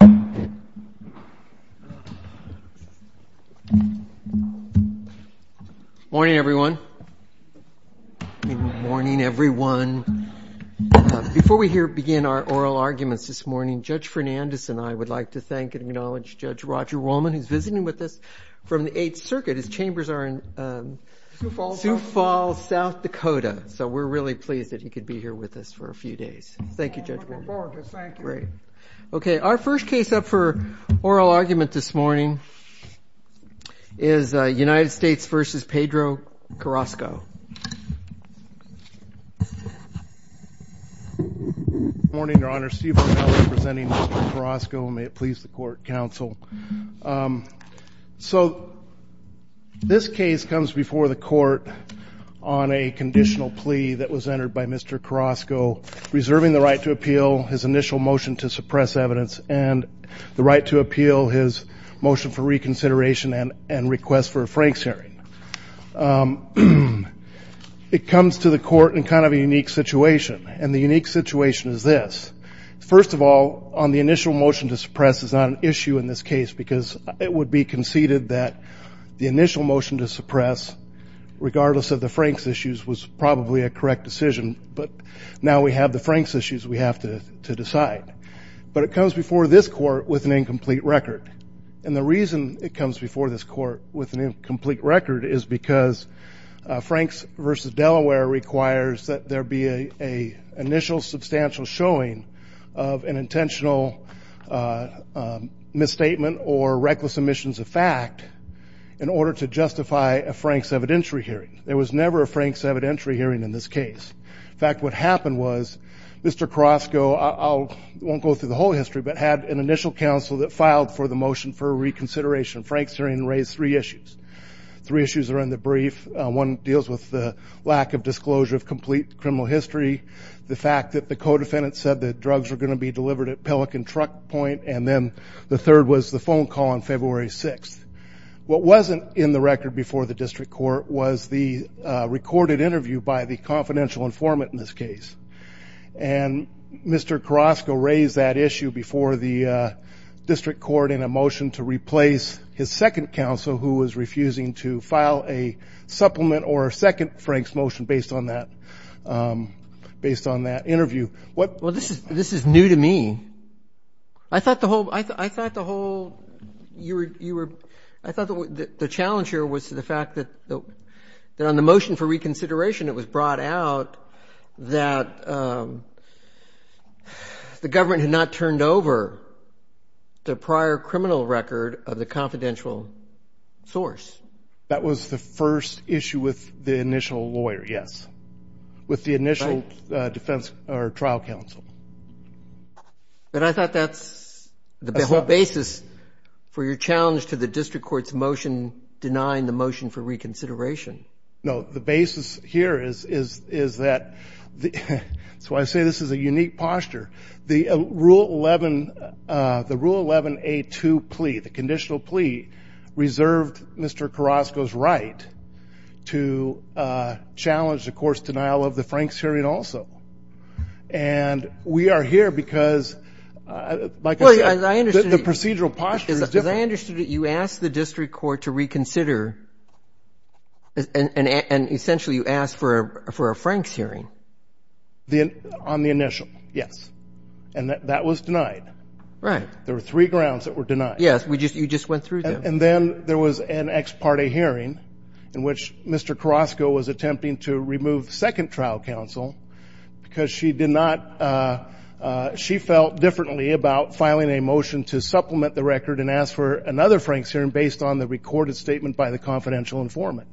Good morning, everyone. Before we begin our oral arguments this morning, Judge Fernandes and I would like to thank and acknowledge Judge Roger Rollman, who is visiting with us from the Eighth Circuit. His chambers are in Sioux Falls, South Dakota, so we're really pleased that he could be here with us for a few days. Thank you, Judge Rollman. Thank you. Thank you, Judge Rogers. Thank you. Great. Okay. Our first case up for oral argument this morning is United States v. Pedro Carrasco. Good morning, Your Honor. Steve O'Malley presenting Mr. Carrasco, and may it please the Court, Counsel. So this case comes before the Court on a conditional plea that was entered by Mr. Carrasco, reserving the right to appeal his initial motion to suppress evidence and the right to appeal his motion for reconsideration and request for a Franks hearing. It comes to the Court in kind of a unique situation, and the unique situation is this. First of all, on the initial motion to suppress is not an issue in this case because it would be conceded that the initial motion to suppress, regardless of the Franks issues, was probably a correct decision, but now we have the Franks issues we have to decide. But it comes before this Court with an incomplete record, and the reason it comes before this Court with an incomplete record is because Franks v. Delaware requires that there be an initial substantial showing of an intentional misstatement or reckless omissions of fact in order to justify a Franks evidentiary hearing. There was never a Franks evidentiary hearing in this case. In fact, what happened was Mr. Carrasco, I won't go through the whole history, but had an initial counsel that filed for the motion for reconsideration. Franks hearing raised three issues. Three issues are in the brief. One deals with the lack of disclosure of complete criminal history, the fact that the co-defendant said that drugs were going to be delivered at Pelican Truck Point, and then the third was the phone call on February 6th. What wasn't in the record before the District Court was the recorded interview by the confidential informant in this case, and Mr. Carrasco raised that issue before the District Court in a motion to replace his second counsel who was refusing to file a supplement or a second Franks motion based on that interview. This is new to me. I thought the whole, I thought the whole, you were, I thought the challenge here was to the fact that on the motion for reconsideration it was brought out that the government had not turned over the prior criminal record of the confidential source. That was the first issue with the initial lawyer, yes. With the initial defense or trial counsel. But I thought that's the whole basis for your challenge to the District Court's motion denying the motion for reconsideration. No, the basis here is that, so I say this is a unique posture. The Rule 11, the Rule 11A2 plea, the conditional plea, reserved Mr. Carrasco's right to challenge the court's denial of the Franks hearing also. And we are here because, like I said, the procedural posture is different. As I understood it, you asked the District Court to reconsider, and essentially you asked for a Franks hearing. On the initial, yes. And that was denied. Right. There were three grounds that were denied. Yes, you just went through them. And then there was an ex parte hearing in which Mr. Carrasco was attempting to remove the second trial counsel because she did not, she felt differently about filing a motion to supplement the record and ask for another Franks hearing based on the recorded statement by the confidential informant.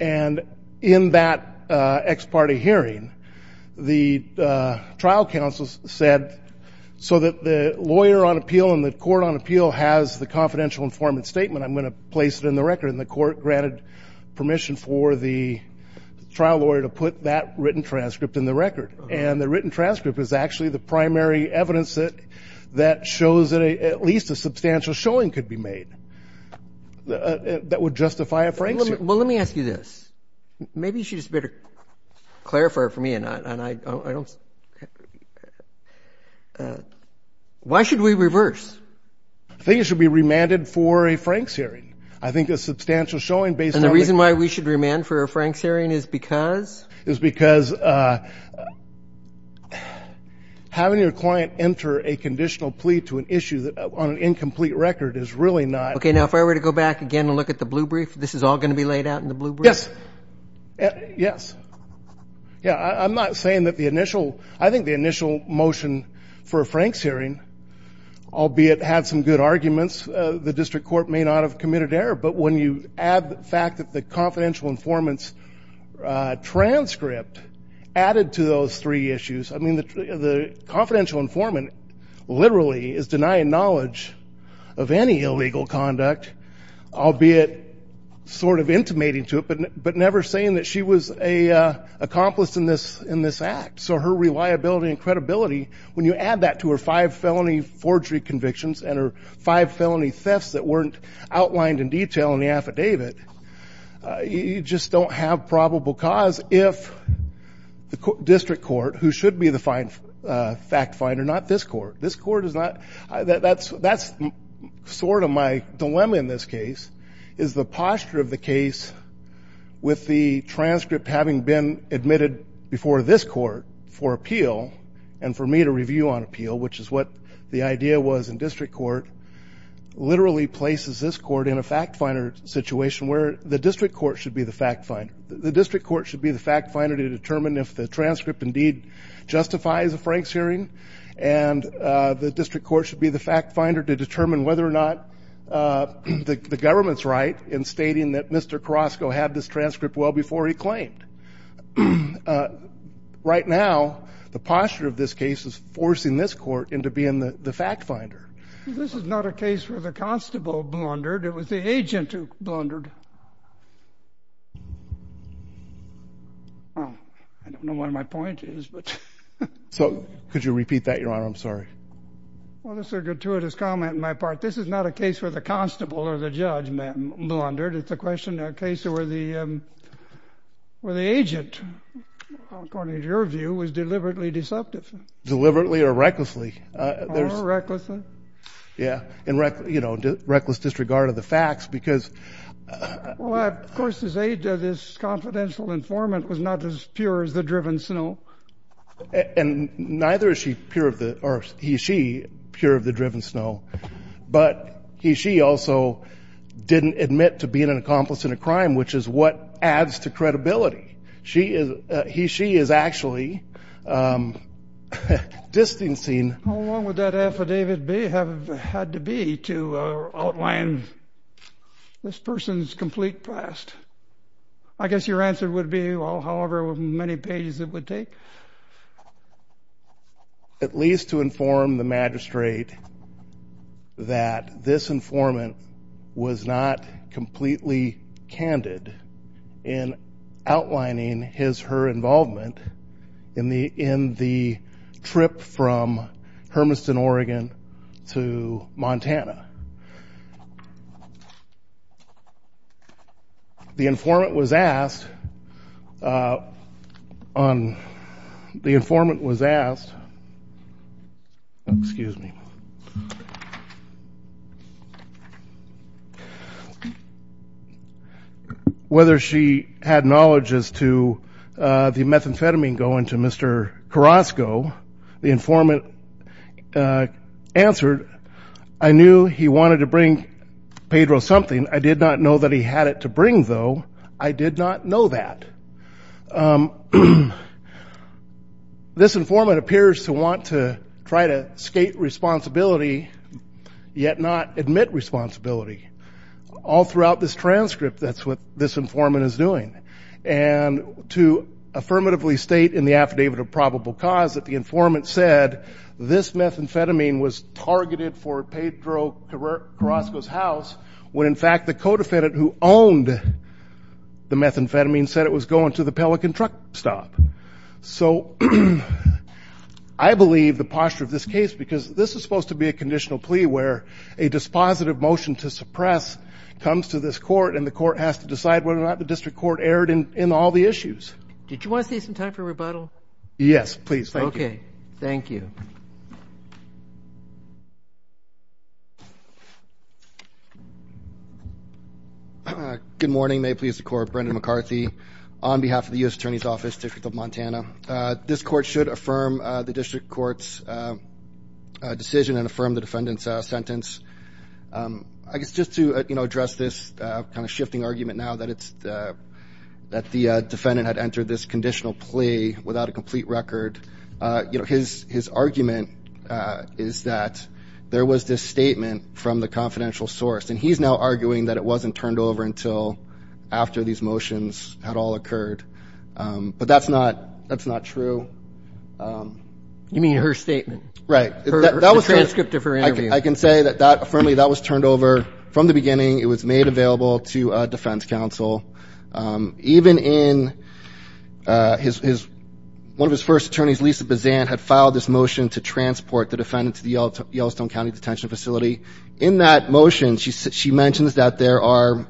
And in that ex parte hearing, the trial counsel said, so that the lawyer on appeal and the defendant's statement, I'm going to place it in the record, and the court granted permission for the trial lawyer to put that written transcript in the record. And the written transcript is actually the primary evidence that shows that at least a substantial showing could be made that would justify a Franks hearing. Well, let me ask you this. Maybe you should just better clarify for me, and I don't... Why should we reverse? I think it should be remanded for a Franks hearing. I think a substantial showing based on... And the reason why we should remand for a Franks hearing is because? Is because having your client enter a conditional plea to an issue that on an incomplete record is really not... Okay. Now, if I were to go back again and look at the blue brief, this is all going to be laid out in the blue brief? Yes. Yes. Yeah. I'm not saying that the initial... I think the initial motion for a Franks hearing, albeit had some good arguments, the district court may not have committed error. But when you add the fact that the confidential informant's transcript added to those three issues... I mean, the confidential informant literally is denying knowledge of any illegal conduct, albeit sort of intimating to it, but never saying that she was an accomplice in this act. So, her reliability and credibility, when you add that to her five felony forgery convictions and her five felony thefts that weren't outlined in detail in the affidavit, you just don't have probable cause if the district court, who should be the fact finder, not this court. This court is not... That's sort of my dilemma in this case, is the posture of the case with the transcript having been admitted before this court for appeal and for me to review on appeal, which is what the idea was in district court, literally places this court in a fact finder situation where the district court should be the fact finder. The district court should be the fact finder to determine if the transcript indeed justifies a Frank's hearing and the district court should be the fact finder to determine whether or not the government's right in stating that Mr. Carrasco had this transcript well before he claimed. Right now, the posture of this case is forcing this court into being the fact finder. This is not a case where the constable blundered, it was the agent who blundered. I don't know what my point is, but... So could you repeat that, Your Honor, I'm sorry. Well, that's a gratuitous comment on my part. This is not a case where the constable or the judge blundered, it's a question, a case where the agent, according to your view, was deliberately deceptive. Deliberately or recklessly. Oh, recklessly. Yeah. And, you know, reckless disregard of the facts because... Well, of course, his aid to this confidential informant was not as pure as the driven snow. And neither is she pure of the, or he, she, pure of the driven snow. But he, she also didn't admit to being an accomplice in a crime, which is what adds to credibility. She is, he, she is actually distancing... to outline this person's complete past. I guess your answer would be, well, however many pages it would take. At least to inform the magistrate that this informant was not completely candid in outlining his, her involvement in the, in the trip from Hermiston, Oregon to Montana. The informant was asked, on, the informant was asked, excuse me, whether she had knowledge as to the methamphetamine going to Mr. Carrasco. The informant answered, I knew he wanted to bring Pedro something. I did not know that he had it to bring, though. I did not know that. This informant appears to want to try to skate responsibility, yet not admit responsibility. All throughout this transcript, that's what this informant is doing. And to affirmatively state in the affidavit of probable cause that the informant said, this methamphetamine was targeted for Pedro Carrasco's house, when in fact the co-defendant who owned the methamphetamine said it was going to the Pelican truck stop. So, I believe the posture of this case, because this is supposed to be a conditional plea where a dispositive motion to suppress comes to this court and the court has to decide whether or not the district court erred in, in all the issues. Did you want to save some time for rebuttal? Yes, please. Thank you. Okay. Thank you. Good morning. May it please the court. Brendan McCarthy on behalf of the U.S. Attorney's Office, District of Montana. This court should affirm the district court's decision and affirm the defendant's sentence. I guess just to, you know, address this kind of shifting argument now that it's, that the defendant had entered this conditional plea without a complete record, you know, his, his argument is that there was this statement from the confidential source, and he's now arguing that it wasn't turned over until after these motions had all occurred. But that's not, that's not true. You mean her statement? Right. The transcript of her interview. I can say that that, firmly, that was turned over from the beginning. It was made available to a defense counsel. Even in his, one of his first attorneys, Lisa Bazant, had filed this motion to transport the defendant to the Yellowstone County Detention Facility. In that motion, she mentions that there are,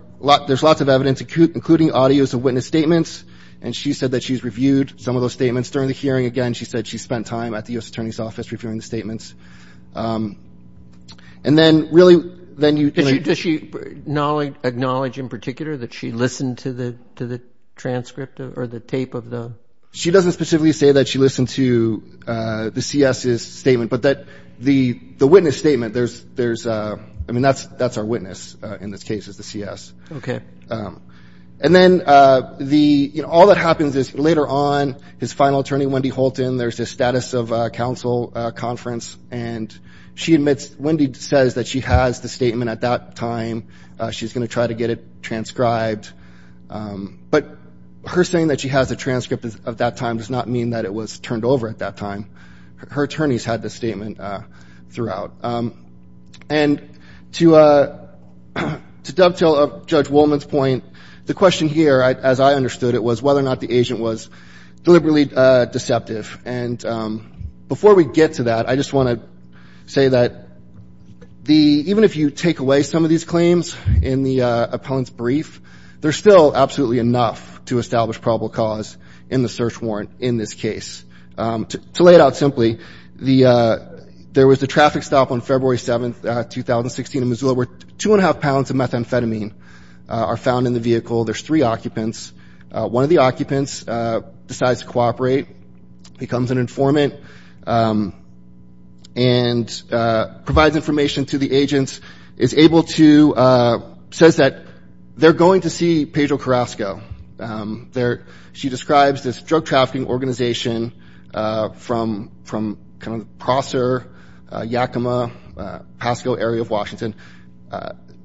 there's lots of evidence, including audios of witness statements, and she said that she's reviewed some of those statements during the hearing. Again, she said she spent time at the U.S. Attorney's Office reviewing the statements. And then, really, then you, you know. Does she acknowledge in particular that she listened to the, to the transcript or the tape of the? She doesn't specifically say that she listened to the C.S.'s statement, but that the, the witness statement, there's, there's, I mean, that's, that's our witness in this case is the C.S. Okay. And then, the, you know, all that happens is, later on, his final attorney, Wendy Holton, there's this status of counsel conference, and she admits, Wendy says that she has the statement at that time. She's going to try to get it transcribed. But her saying that she has the transcript of that time does not mean that it was turned over at that time. Her attorneys had the statement throughout. And, to, to dovetail up Judge Woolman's point, the question here, as I understood it, was whether or not the agent was deliberately deceptive. And before we get to that, I just want to say that the, even if you take away some of these claims in the appellant's brief, there's still absolutely enough to establish probable cause in the search warrant in this case. To lay it out simply, the, there was a traffic stop on February 7th, 2016, in Missoula where two and a half pounds of methamphetamine are found in the vehicle. There's three occupants. One of the occupants decides to cooperate, becomes an informant, and provides information to the agents, is able to, says that they're going to see Pedro Carrasco. They're, she describes this drug trafficking organization from, from kind of Prosser, Yakima, Pasco area of Washington.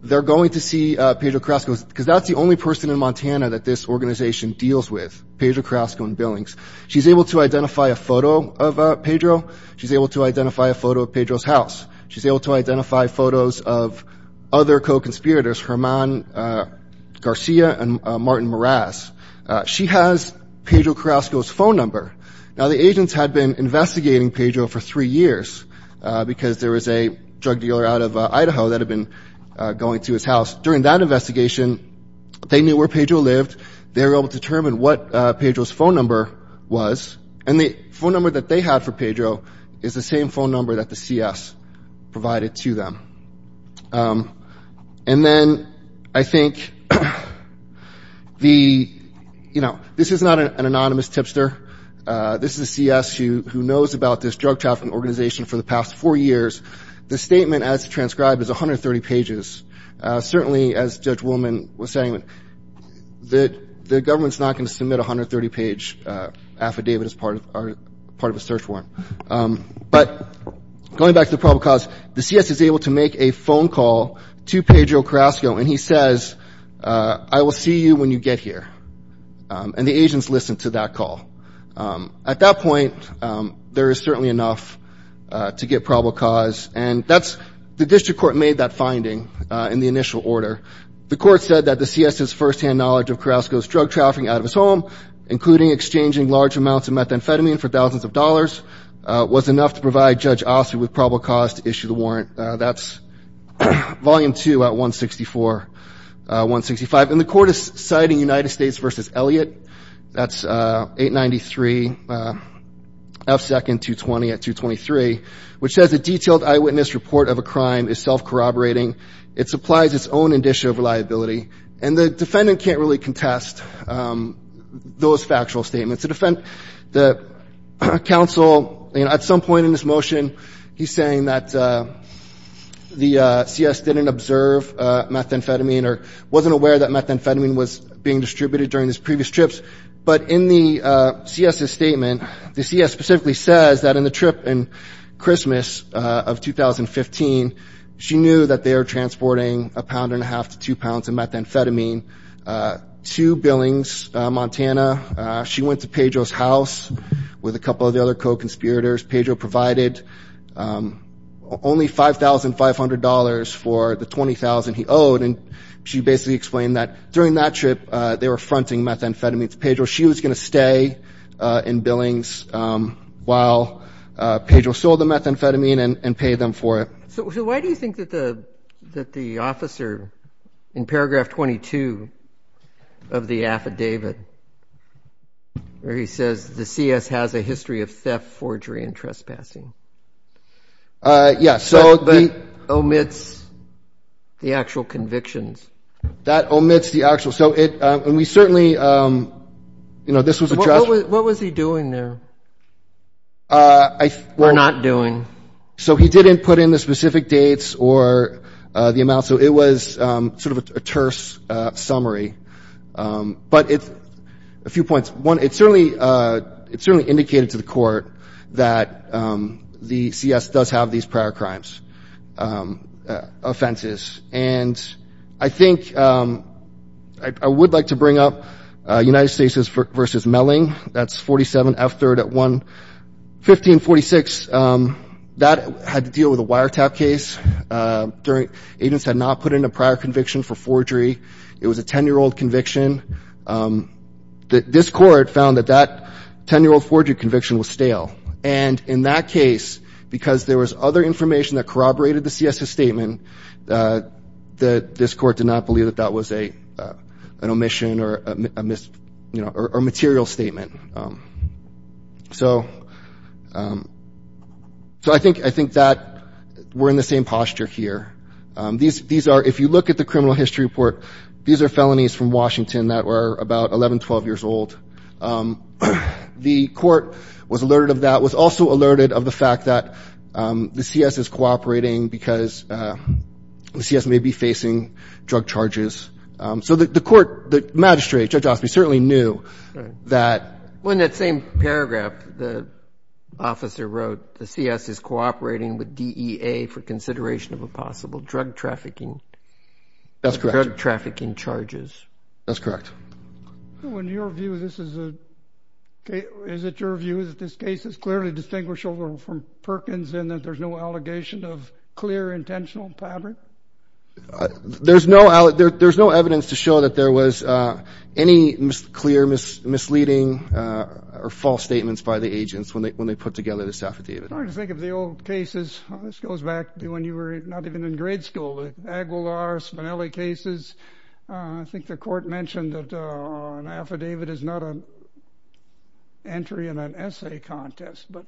They're going to see Pedro Carrasco, because that's the only person in Montana that this organization deals with, Pedro Carrasco and Billings. She's able to identify a photo of Pedro. She's able to identify a photo of Pedro's house. She's able to identify photos of other co-conspirators, Herman Garcia and Martin Meraz. She has Pedro Carrasco's phone number. Now, the agents had been investigating Pedro for three years, because there was a drug dealer out of Idaho that had been going to his house. During that investigation, they knew where Pedro lived, they were able to determine what Pedro's phone number was, and the phone number that they had for Pedro is the same phone number that the CS provided to them. And then, I think, the, you know, this is not an anonymous tipster. This is a CS who knows about this drug trafficking organization for the past four years. The statement as transcribed is 130 pages. Certainly, as Judge Woolman was saying, the government's not going to submit a 130-page affidavit as part of a search warrant. But going back to the probable cause, the CS is able to make a phone call to Pedro Carrasco, and he says, I will see you when you get here. And the agents listened to that call. At that point, there is certainly enough to get probable cause, and that's – the district court made that finding in the initial order. The court said that the CS's firsthand knowledge of Carrasco's drug trafficking out of his was enough to provide Judge Ossoff with probable cause to issue the warrant. That's Volume 2 at 164, 165. And the court is citing United States v. Elliott. That's 893 F. 2nd 220 at 223, which says, a detailed eyewitness report of a crime is self-corroborating. It supplies its own indicia of reliability. And the defendant can't really contest those factual statements. To defend the counsel, at some point in this motion, he's saying that the CS didn't observe methamphetamine or wasn't aware that methamphetamine was being distributed during his previous trips. But in the CS's statement, the CS specifically says that in the trip in Christmas of 2015, she knew that they were transporting a pound and a half to two pounds of methamphetamine to Billings, Montana. She went to Pedro's house with a couple of the other co-conspirators. Pedro provided only $5,500 for the $20,000 he owed. And she basically explained that during that trip, they were fronting methamphetamines. Pedro, she was going to stay in Billings while Pedro sold the methamphetamine and paid them for it. So why do you think that the officer, in paragraph 22 of the affidavit, where he says, the CS has a history of theft, forgery, and trespassing, omits the actual convictions? That omits the actual. So we certainly, you know, this was addressed. What was he doing there, or not doing? So he didn't put in the specific dates or the amount. So it was sort of a terse summary. But a few points. One, it certainly indicated to the court that the CS does have these prior crimes, offenses. And I think I would like to bring up United States v. Melling. That's 47 F3rd at 11546. That had to deal with a wiretap case. Agents had not put in a prior conviction for forgery. It was a 10-year-old conviction. This court found that that 10-year-old forgery conviction was stale. And in that case, because there was other information that corroborated the CS's statement, this court did not believe that that was an omission or a material statement. So I think that we're in the same posture here. If you look at the criminal history report, these are felonies from Washington that were about 11, 12 years old. The court was alerted of that, was also alerted of the fact that the CS is cooperating because the CS may be facing drug charges. So the court, the magistrate, Judge Osby, certainly knew that. Well, in that same paragraph, the officer wrote, the CS is cooperating with DEA for consideration of a possible drug trafficking. That's correct. Drug trafficking charges. That's correct. In your view, is it your view that this case is clearly distinguishable from Perkins in that there's no allegation of clear intentional fabric? There's no evidence to show that there was any clear misleading or false statements by the agents when they put together this affidavit. I'm trying to think of the old cases. This goes back to when you were not even in grade school, Aguilar, Spinelli cases. I think the court mentioned that an affidavit is not an entry in an essay contest, but...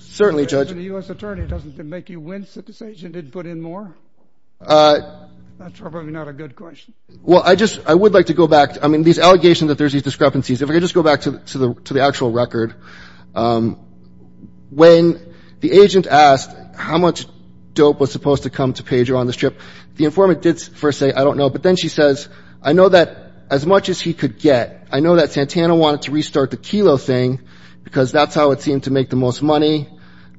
Certainly, Judge. ...the U.S. attorney doesn't make you wince that this agent didn't put in more? That's probably not a good question. Well, I just, I would like to go back. I mean, these allegations that there's these discrepancies, if I could just go back to the actual record, when the agent asked how much dope was supposed to come to Pedro on his trip, the informant did first say, I don't know, but then she says, I know that as much as he could get, I know that Santana wanted to restart the kilo thing because that's how it seemed to make the most money.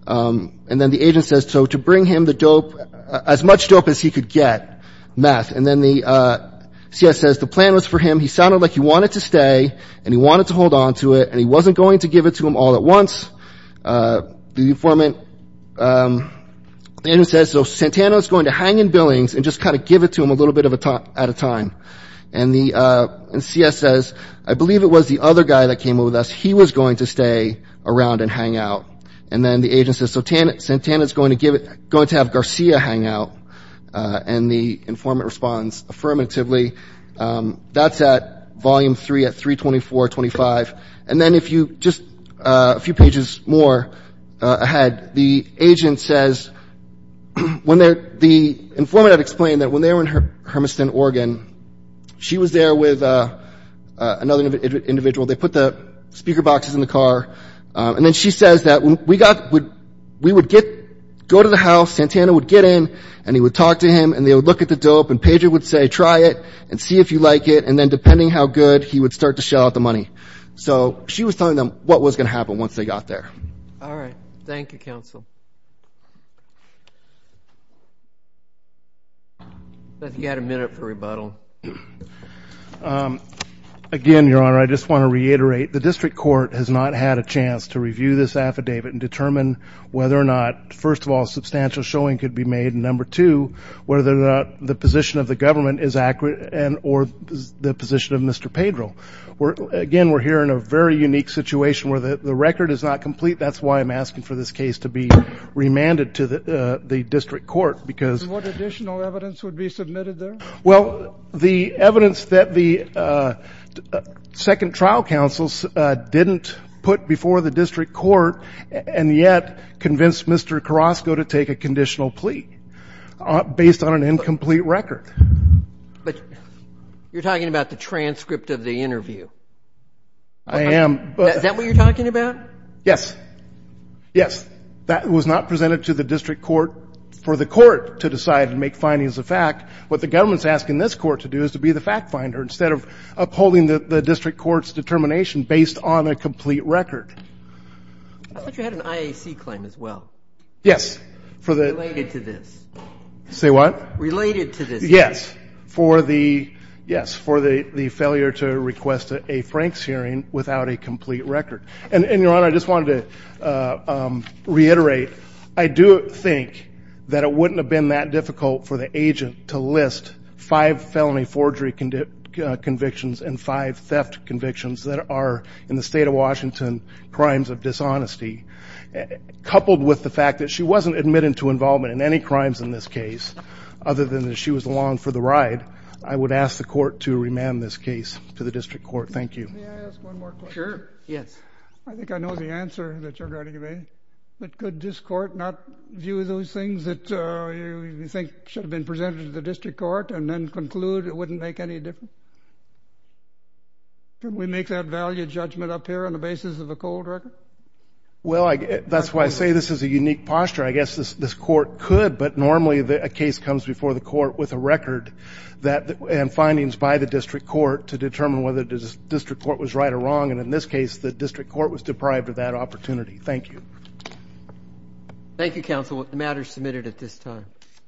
And then the agent says, so to bring him the dope, as much dope as he could get, meth. And then the CS says the plan was for him, he sounded like he wanted to stay and he wanted to hold on to it and he wasn't going to give it to him all at once. The informant, the agent says, so Santana is going to hang in Billings and just kind of give it to him a little bit at a time. And the, and CS says, I believe it was the other guy that came with us. He was going to stay around and hang out. And then the agent says, so Santana is going to give it, going to have Garcia hang out. And the informant responds affirmatively. That's at volume three at 32425. And then if you, just a few pages more ahead, the agent says, when they're, the informant had explained that when they were in Hermiston, Oregon, she was there with another individual. They put the speaker boxes in the car. And then she says that we got, we would get, go to the house, Santana would get in and he would talk to him and they would look at the dope and Pedro would say, try it and see if you like it. And then depending how good, he would start to shell out the money. So she was telling them what was going to happen once they got there. All right. Thank you, counsel. I think you had a minute for rebuttal. Again, Your Honor, I just want to reiterate, the district court has not had a chance to review this affidavit and determine whether or not, first of all, substantial showing could be made. And number two, whether the position of the government is accurate and, or the position of Mr. Pedro. We're, again, we're here in a very unique situation where the record is not complete. That's why I'm asking for this case to be remanded to the, the district court because what additional evidence would be submitted there? Well, the evidence that the second trial counsels didn't put before the district court and yet convinced Mr. Carrasco to take a conditional plea based on an incomplete record. But you're talking about the transcript of the interview. I am. Is that what you're talking about? Yes. Yes. That was not presented to the district court for the court to decide and make findings of fact. What the government's asking this court to do is to be the fact finder instead of upholding the district court's determination based on a complete record. I thought you had an IAC claim as well. Yes. Related to this. Say what? Related to this. Yes. For the, yes, for the, the failure to request a Frank's hearing without a complete record. And, and Your Honor, I just wanted to reiterate, I do think that it wouldn't have been that difficult for the agent to list five felony forgery convictions and five theft convictions that are in the state of Washington crimes of dishonesty coupled with the fact that she wasn't admitted to involvement in any crimes in this case other than that she was along for the ride. I would ask the court to remand this case to the district court. Thank you. May I ask one more question? Sure. Yes. I think I know the answer that you're going to give me. But could this court not view those things that you think should have been presented to the district court and then conclude it wouldn't make any difference? Can we make that value judgment up here on the basis of a cold record? Well, I, that's why I say this is a unique posture. I guess this, this court could, but normally a case comes before the court with a record that, and findings by the district court to determine whether the district court was right or wrong. And in this case, the district court was deprived of that opportunity. Thank you. Thank you, counsel. The matter is submitted at this time.